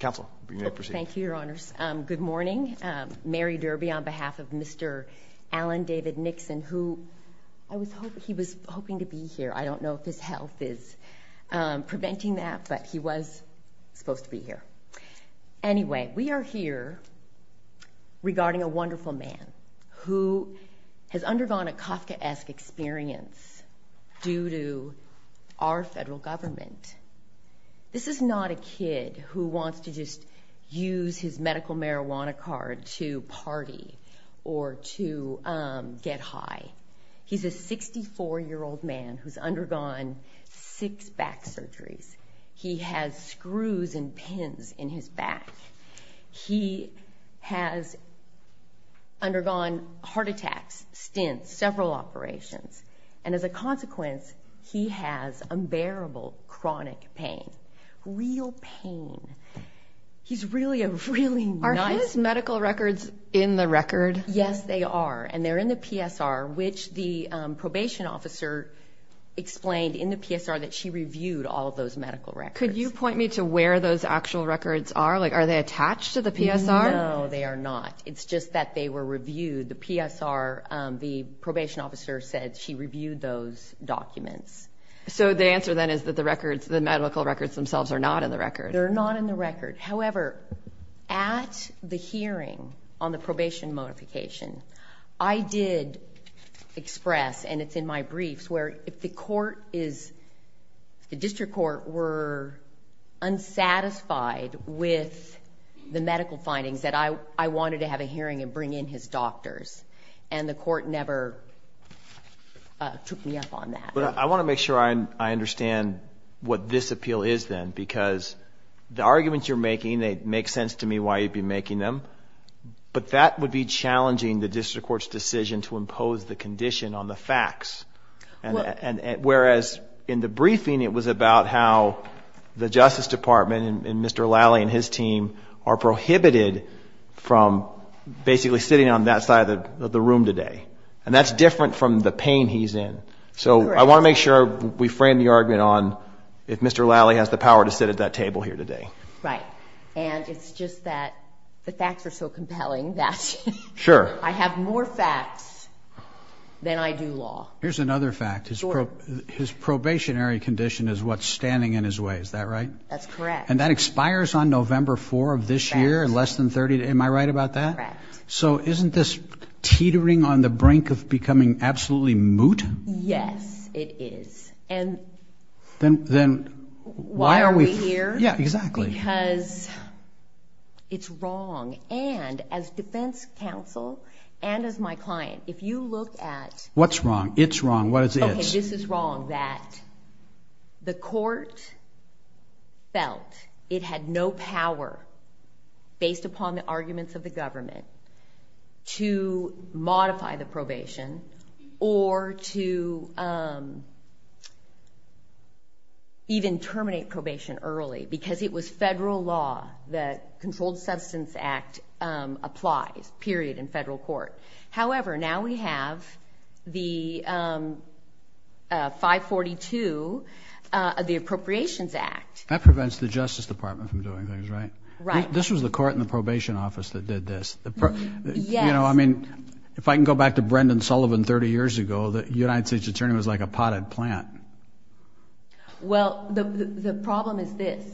Counsel, you may proceed. Thank you, Your Honors. Good morning. Mary Derby on behalf of Mr. Alan David Nixon, who I was hoping he was hoping to be here. I don't know if his health is preventing that, but he was supposed to be here. Anyway, we are here regarding a wonderful man who has undergone a Kafkaesque experience due to our federal government. This is not a kid who wants to just use his medical marijuana card to party or to get high. He's a 64-year-old man who's undergone six back surgeries. He has screws and pins in his back. He has undergone heart attacks, stints, several operations, and as a consequence, he has unbearable chronic pain, real pain. He's really a really nice man. Are his medical records in the record? Yes, they are, and they're in the PSR, which the probation officer explained in the PSR that she reviewed all of those medical records. Could you point me to where those actual records are? Like, are they attached to the PSR? No, they are not. It's just that they were reviewed. The PSR, the probation officer said she reviewed those documents. So the answer, then, is that the medical records themselves are not in the record. They're not in the record. However, at the hearing on the probation modification, I did express, and it's in my briefs, where if the district court were unsatisfied with the medical findings, that I wanted to have a hearing and bring in his doctors, and the court never took me up on that. But I want to make sure I understand what this appeal is, then, because the arguments you're making, it makes sense to me why you'd be making them, but that would be challenging the district court's decision to impose the condition on the facts, whereas in the briefing it was about how the Justice Department and Mr. Lally and his team are prohibited from basically sitting on that side of the room today. And that's different from the pain he's in. So I want to make sure we frame the argument on if Mr. Lally has the power to sit at that table here today. Right. And it's just that the facts are so compelling that I have more facts than I do law. Here's another fact. His probationary condition is what's standing in his way. Is that right? That's correct. And that expires on November 4th of this year, less than 30 days. Am I right about that? Correct. So isn't this teetering on the brink of becoming absolutely moot? Yes, it is. And why are we here? Yeah, exactly. Because it's wrong. And as defense counsel and as my client, if you look at... What's wrong? It's wrong. What is it? Okay, this is wrong, that the court felt it had no power, based upon the arguments of the government, to modify the probation or to even terminate probation early because it was federal law, the Controlled Substance Act applies, period, in federal court. However, now we have the 542, the Appropriations Act. That prevents the Justice Department from doing things, right? Right. This was the court in the probation office that did this. Yes. You know, I mean, if I can go back to Brendan Sullivan 30 years ago, the United States Attorney was like a potted plant. Well, the problem is this.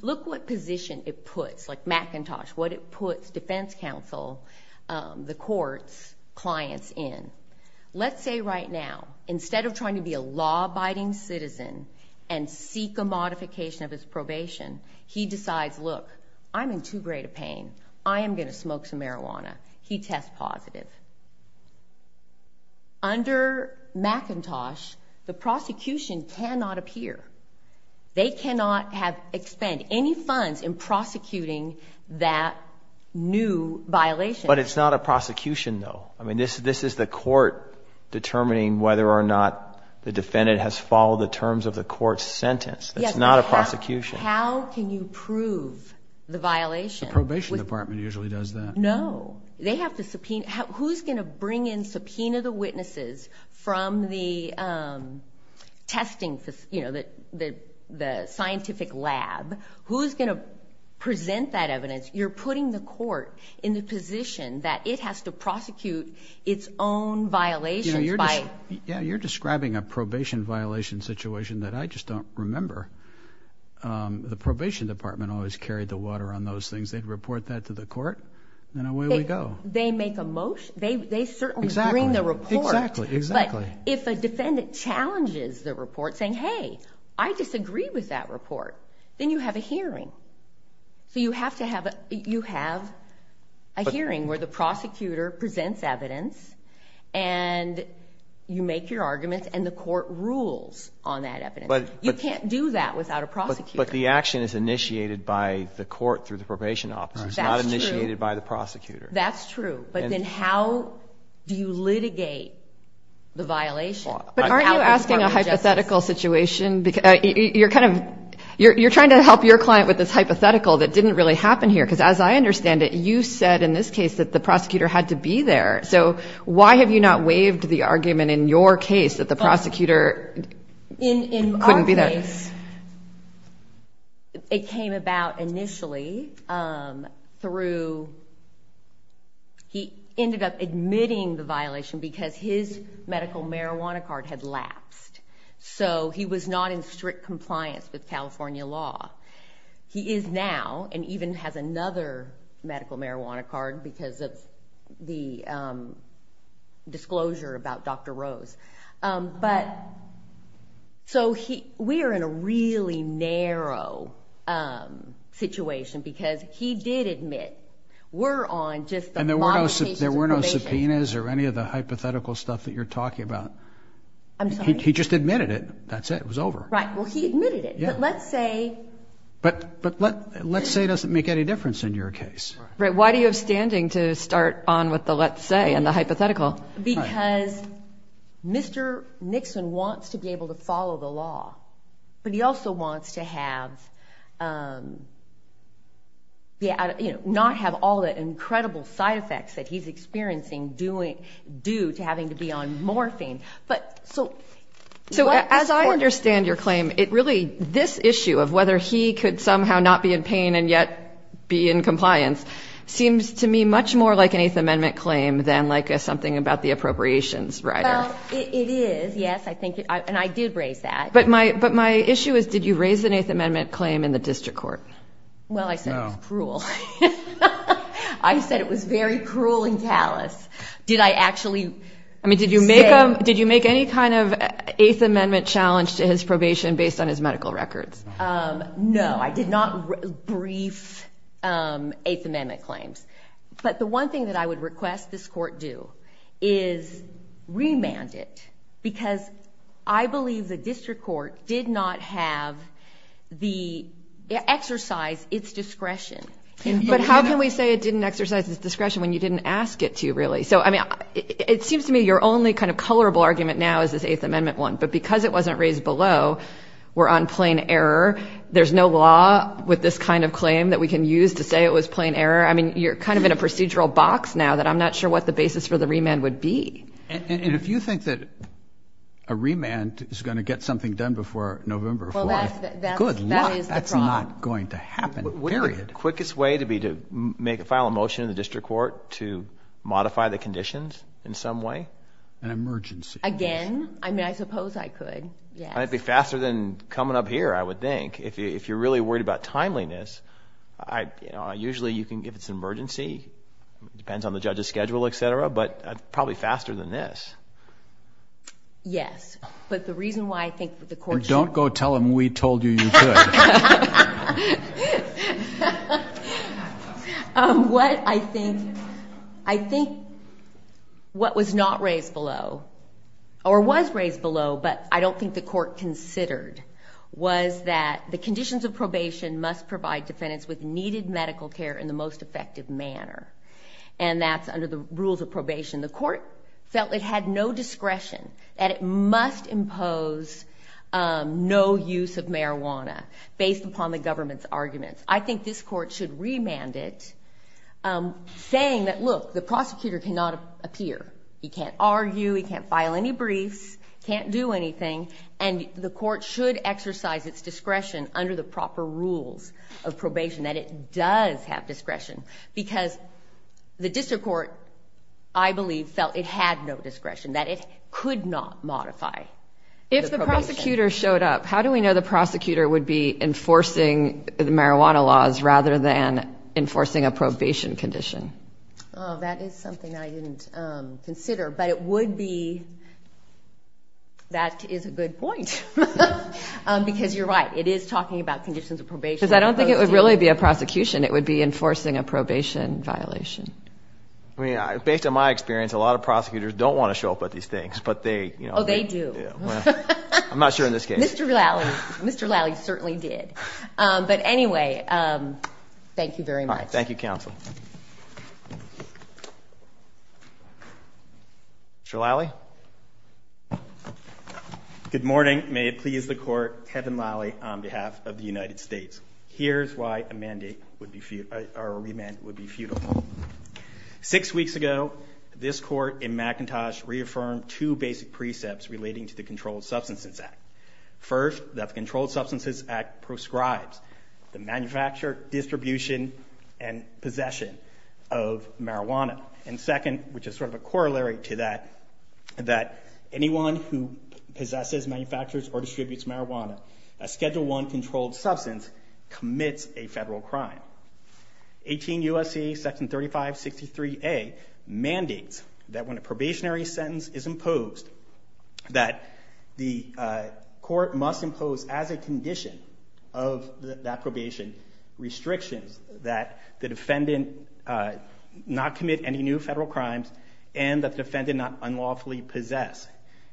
Look what position it puts, like McIntosh, what it puts defense counsel, the courts, clients in. Let's say right now, instead of trying to be a law-abiding citizen and seek a modification of his probation, he decides, look, I'm in too great a pain. I am going to smoke some marijuana. He tests positive. Under McIntosh, the prosecution cannot appear. They cannot expend any funds in prosecuting that new violation. But it's not a prosecution, though. I mean, this is the court determining whether or not the defendant has followed the terms of the court's sentence. It's not a prosecution. How can you prove the violation? No. They have to subpoena. Who's going to bring in subpoena the witnesses from the testing, you know, the scientific lab? Who's going to present that evidence? You're putting the court in the position that it has to prosecute its own violations. Yeah, you're describing a probation violation situation that I just don't remember. The probation department always carried the water on those things. They'd report that to the court, and away we go. They make a motion. They certainly bring the report. Exactly, exactly. But if a defendant challenges the report saying, hey, I disagree with that report, then you have a hearing. So you have to have a hearing where the prosecutor presents evidence, and you make your arguments, and the court rules on that evidence. You can't do that without a prosecutor. But the action is initiated by the court through the probation office. It's not initiated by the prosecutor. That's true. But then how do you litigate the violation? Aren't you asking a hypothetical situation? You're trying to help your client with this hypothetical that didn't really happen here, because as I understand it, you said in this case that the prosecutor had to be there. So why have you not waived the argument in your case that the prosecutor couldn't be there? In this case, it came about initially through he ended up admitting the violation because his medical marijuana card had lapsed. So he was not in strict compliance with California law. He is now and even has another medical marijuana card because of the disclosure about Dr. Rose. So we are in a really narrow situation because he did admit we're on just the modifications of probation. And there were no subpoenas or any of the hypothetical stuff that you're talking about. I'm sorry? He just admitted it. That's it. It was over. Right. Well, he admitted it. But let's say. But let's say doesn't make any difference in your case. Right. Why do you have standing to start on with the let's say and the hypothetical? Because Mr. Nixon wants to be able to follow the law. But he also wants to have not have all the incredible side effects that he's experiencing due to having to be on morphine. But so. So as I understand your claim, it really this issue of whether he could somehow not be in pain and yet be in compliance seems to me much more like an Eighth Amendment claim than like something about the appropriations. Right. It is. Yes, I think. And I did raise that. But my but my issue is, did you raise an Eighth Amendment claim in the district court? Well, I said cruel. I said it was very cruel and callous. Did I actually. I mean, did you make. Did you make any kind of Eighth Amendment challenge to his probation based on his medical records? No, I did not brief Eighth Amendment claims. But the one thing that I would request this court do is remand it because I believe the district court did not have the exercise its discretion. But how can we say it didn't exercise its discretion when you didn't ask it to really? So, I mean, it seems to me you're only kind of colorable argument now is this Eighth Amendment one. But because it wasn't raised below, we're on plain error. There's no law with this kind of claim that we can use to say it was plain error. I mean, you're kind of in a procedural box now that I'm not sure what the basis for the remand would be. And if you think that a remand is going to get something done before November, that's not going to happen. Period. Quickest way to be to make a final motion in the district court to modify the conditions in some way. An emergency. Again? I mean, I suppose I could. Yes. It might be faster than coming up here, I would think. If you're really worried about timeliness, usually you can give it an emergency. It depends on the judge's schedule, et cetera. But probably faster than this. Yes. But the reason why I think the court should. Don't go tell them we told you you could. What I think. I think what was not raised below, or was raised below, but I don't think the court considered, was that the conditions of probation must provide defendants with needed medical care in the most effective manner. And that's under the rules of probation. The court felt it had no discretion, that it must impose no use of marijuana based upon the government's arguments. I think this court should remand it, saying that, look, the prosecutor cannot appear. He can't argue. He can't file any briefs. Can't do anything. And the court should exercise its discretion under the proper rules of probation, that it does have discretion. Because the district court, I believe, felt it had no discretion, that it could not modify the probation. If the prosecutor showed up, how do we know the prosecutor would be enforcing the marijuana laws rather than enforcing a probation condition? That is something I didn't consider. But it would be. That is a good point. Because you're right. It is talking about conditions of probation. Because I don't think it would really be a prosecution. It would be enforcing a probation violation. Based on my experience, a lot of prosecutors don't want to show up at these things. Oh, they do. I'm not sure in this case. Mr. Lally certainly did. But anyway, thank you very much. Thank you, Counsel. Mr. Lally? Good morning. May it please the Court, Kevin Lally on behalf of the United States. Here's why a remand would be futile. Six weeks ago, this Court in McIntosh reaffirmed two basic precepts relating to the Controlled Substances Act. First, that the Controlled Substances Act proscribes the manufacture, distribution, and possession of marijuana. And second, which is sort of a corollary to that, that anyone who possesses, manufactures, or distributes marijuana, a Schedule I controlled substance, commits a federal crime. 18 U.S.C. Section 3563A mandates that when a probationary sentence is imposed, that the court must impose as a condition of that probation restrictions that the defendant not commit any new federal crimes and that the defendant not unlawfully possess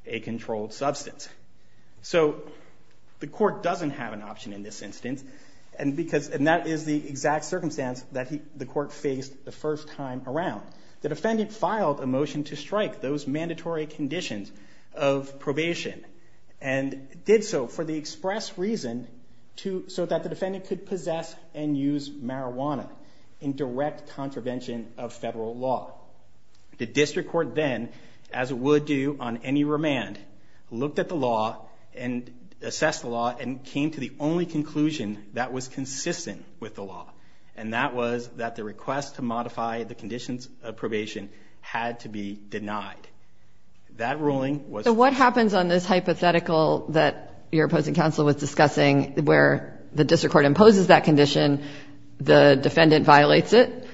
a controlled substance. So the court doesn't have an option in this instance, and that is the exact circumstance that the court faced the first time around. The defendant filed a motion to strike those mandatory conditions of probation and did so for the express reason so that the defendant could possess and use marijuana in direct contravention of federal law. The district court then, as it would do on any remand, looked at the law and assessed the law and came to the only conclusion that was consistent with the law, and that was that the request to modify the conditions of probation had to be denied. That ruling was... So what happens on this hypothetical that your opposing counsel was discussing where the district court imposes that condition, the defendant violates it,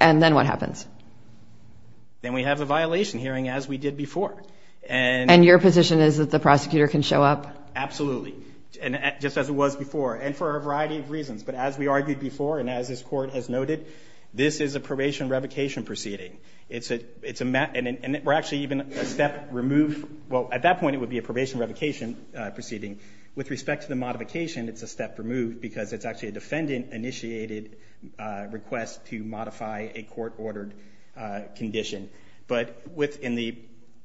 and then what happens? Then we have the violation hearing as we did before. And your position is that the prosecutor can show up? Absolutely, just as it was before, and for a variety of reasons. But as we argued before and as this Court has noted, this is a probation revocation proceeding. It's a match and we're actually even a step removed. Well, at that point it would be a probation revocation proceeding. With respect to the modification, it's a step removed because it's actually a defendant-initiated request to modify a court-ordered condition. But in the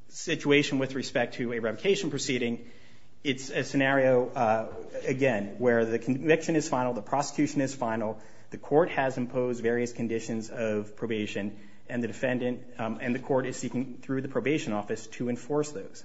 situation with respect to a revocation proceeding, it's a scenario, again, where the conviction is final, the prosecution is final, the court has imposed various conditions of probation, and the court is seeking through the probation office to enforce those.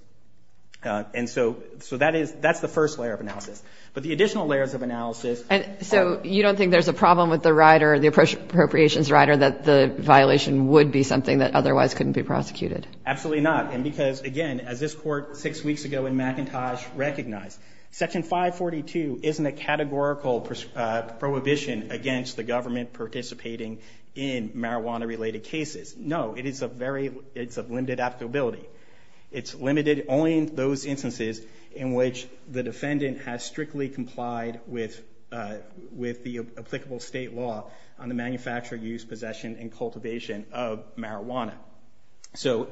And so that's the first layer of analysis. But the additional layers of analysis... And so you don't think there's a problem with the rider, the appropriations rider, that the violation would be something that otherwise couldn't be prosecuted? Absolutely not. And because, again, as this Court six weeks ago in McIntosh recognized, Section 542 isn't a categorical prohibition against the government participating in marijuana-related cases. No, it is a very, it's of limited applicability. It's limited only in those instances in which the defendant has strictly complied with the applicable state law on the manufacture, use, possession, and cultivation of marijuana. So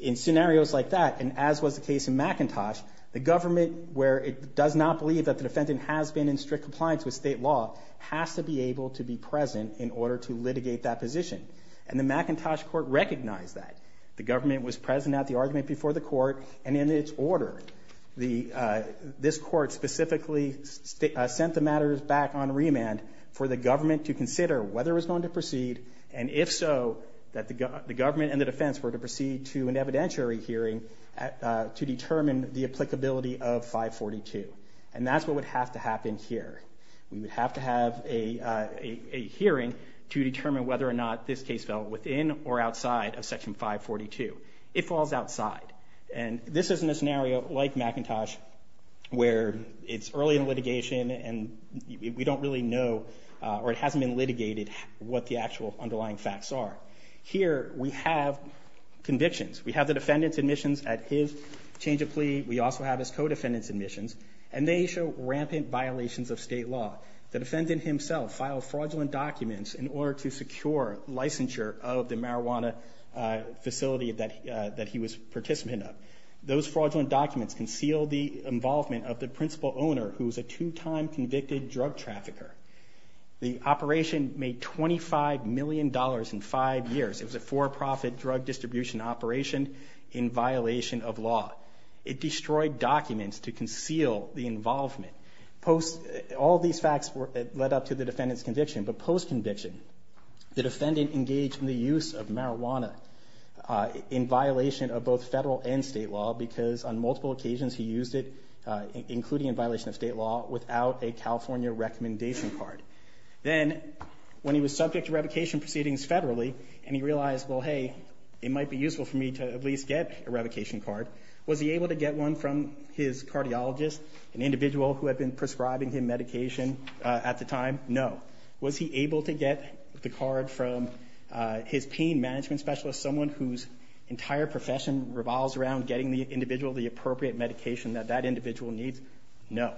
in scenarios like that, and as was the case in McIntosh, the government, where it does not believe that the defendant has been in strict compliance with state law, has to be able to be present in order to litigate that position. And the McIntosh Court recognized that. The government was present at the argument before the Court, and in its order, this Court specifically sent the matters back on remand for the government to consider whether it was going to proceed, and if so, that the government and the defense were to proceed to an evidentiary hearing to determine the applicability of 542. And that's what would have to happen here. We would have to have a hearing to determine whether or not this case fell within or outside of Section 542. It falls outside. And this is in a scenario like McIntosh, where it's early in litigation, and we don't really know, or it hasn't been litigated, what the actual underlying facts are. Here we have convictions. We have the defendant's admissions at his change of plea. We also have his co-defendant's admissions. And they show rampant violations of state law. The defendant himself filed fraudulent documents in order to secure licensure of the marijuana facility that he was participant of. Those fraudulent documents concealed the involvement of the principal owner, who was a two-time convicted drug trafficker. The operation made $25 million in five years. It was a for-profit drug distribution operation in violation of law. It destroyed documents to conceal the involvement. All these facts led up to the defendant's conviction. But post-conviction, the defendant engaged in the use of marijuana in violation of both federal and state law, because on multiple occasions he used it, including in violation of state law, without a California recommendation card. Then, when he was subject to revocation proceedings federally, and he realized, well, hey, it might be useful for me to at least get a revocation card, was he able to get one from his cardiologist, an individual who had been prescribing him medication at the time? No. Was he able to get the card from his pain management specialist, someone whose entire profession revolves around getting the individual the appropriate medication that that individual needs? No.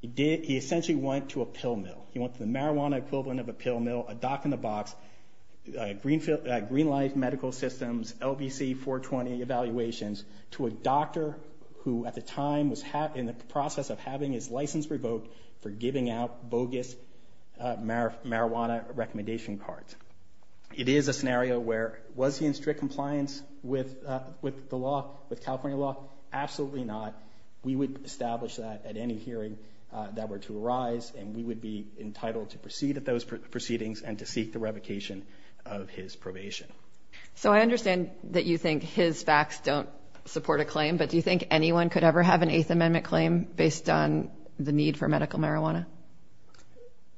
He essentially went to a pill mill. He went to the marijuana equivalent of a pill mill, a dock-in-the-box, Green Life Medical Systems, LBC 420 evaluations, to a doctor who at the time was in the process of having his license revoked for giving out bogus marijuana recommendation cards. It is a scenario where, was he in strict compliance with the law, with California law? Absolutely not. We would establish that at any hearing that were to arise, and we would be entitled to proceed at those proceedings and to seek the revocation of his probation. So I understand that you think his facts don't support a claim, but do you think anyone could ever have an Eighth Amendment claim based on the need for medical marijuana?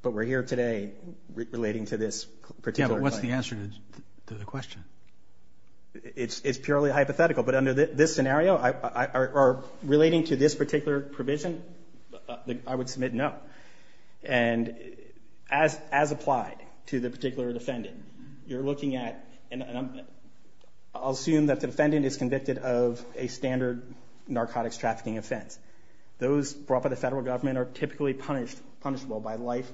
But we're here today relating to this particular claim. Yeah, but what's the answer to the question? It's purely hypothetical, but under this scenario, or relating to this particular provision, I would submit no. And as applied to the particular defendant, you're looking at, and I'll assume that the defendant is convicted of a standard narcotics trafficking offense. Those brought by the federal government are typically punishable by life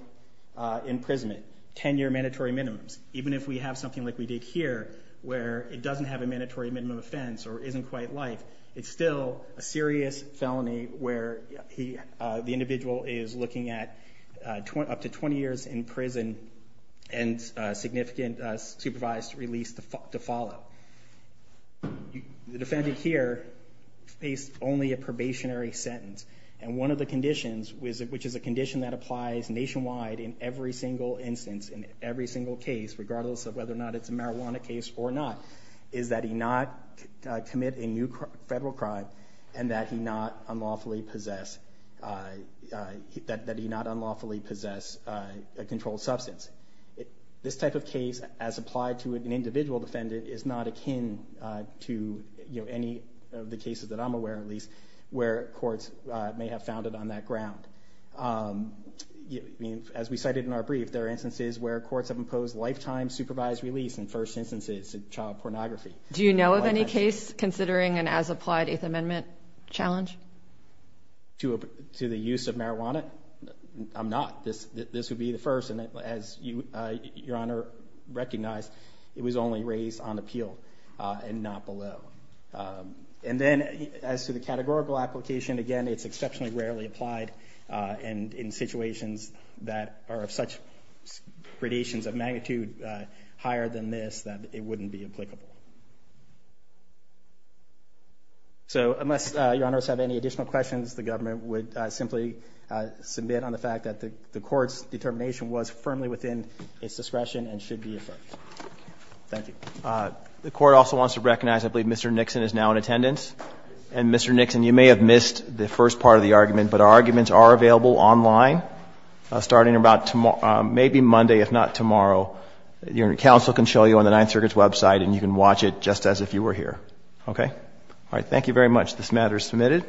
imprisonment, 10-year mandatory minimums. Even if we have something like we did here, where it doesn't have a mandatory minimum offense or isn't quite life, it's still a serious felony where the individual is looking at up to 20 years in prison and significant supervised release to follow. The defendant here faced only a probationary sentence, and one of the conditions, which is a condition that applies nationwide in every single instance, in every single case, regardless of whether or not it's a marijuana case or not, is that he not commit a new federal crime and that he not unlawfully possess a controlled substance. This type of case, as applied to an individual defendant, is not akin to any of the cases that I'm aware of, at least, where courts may have found it on that ground. As we cited in our brief, there are instances where courts have imposed lifetime supervised release in first instances of child pornography. Do you know of any case considering an as-applied Eighth Amendment challenge? To the use of marijuana? I'm not. This would be the first. And as Your Honor recognized, it was only raised on appeal and not below. And then as to the categorical application, again, it's exceptionally rarely applied in situations that are of such gradations of magnitude higher than this that it wouldn't be applicable. So unless Your Honors have any additional questions, the government would simply submit on the fact that the court's determination was firmly within its discretion and should be affirmed. Thank you. The Court also wants to recognize, I believe, Mr. Nixon is now in attendance. And, Mr. Nixon, you may have missed the first part of the argument, but our arguments are available online starting about maybe Monday, if not tomorrow. Your counsel can show you on the Ninth Circuit's website, and you can watch it just as if you were here. Okay? All right. Thank you very much. This matter is submitted.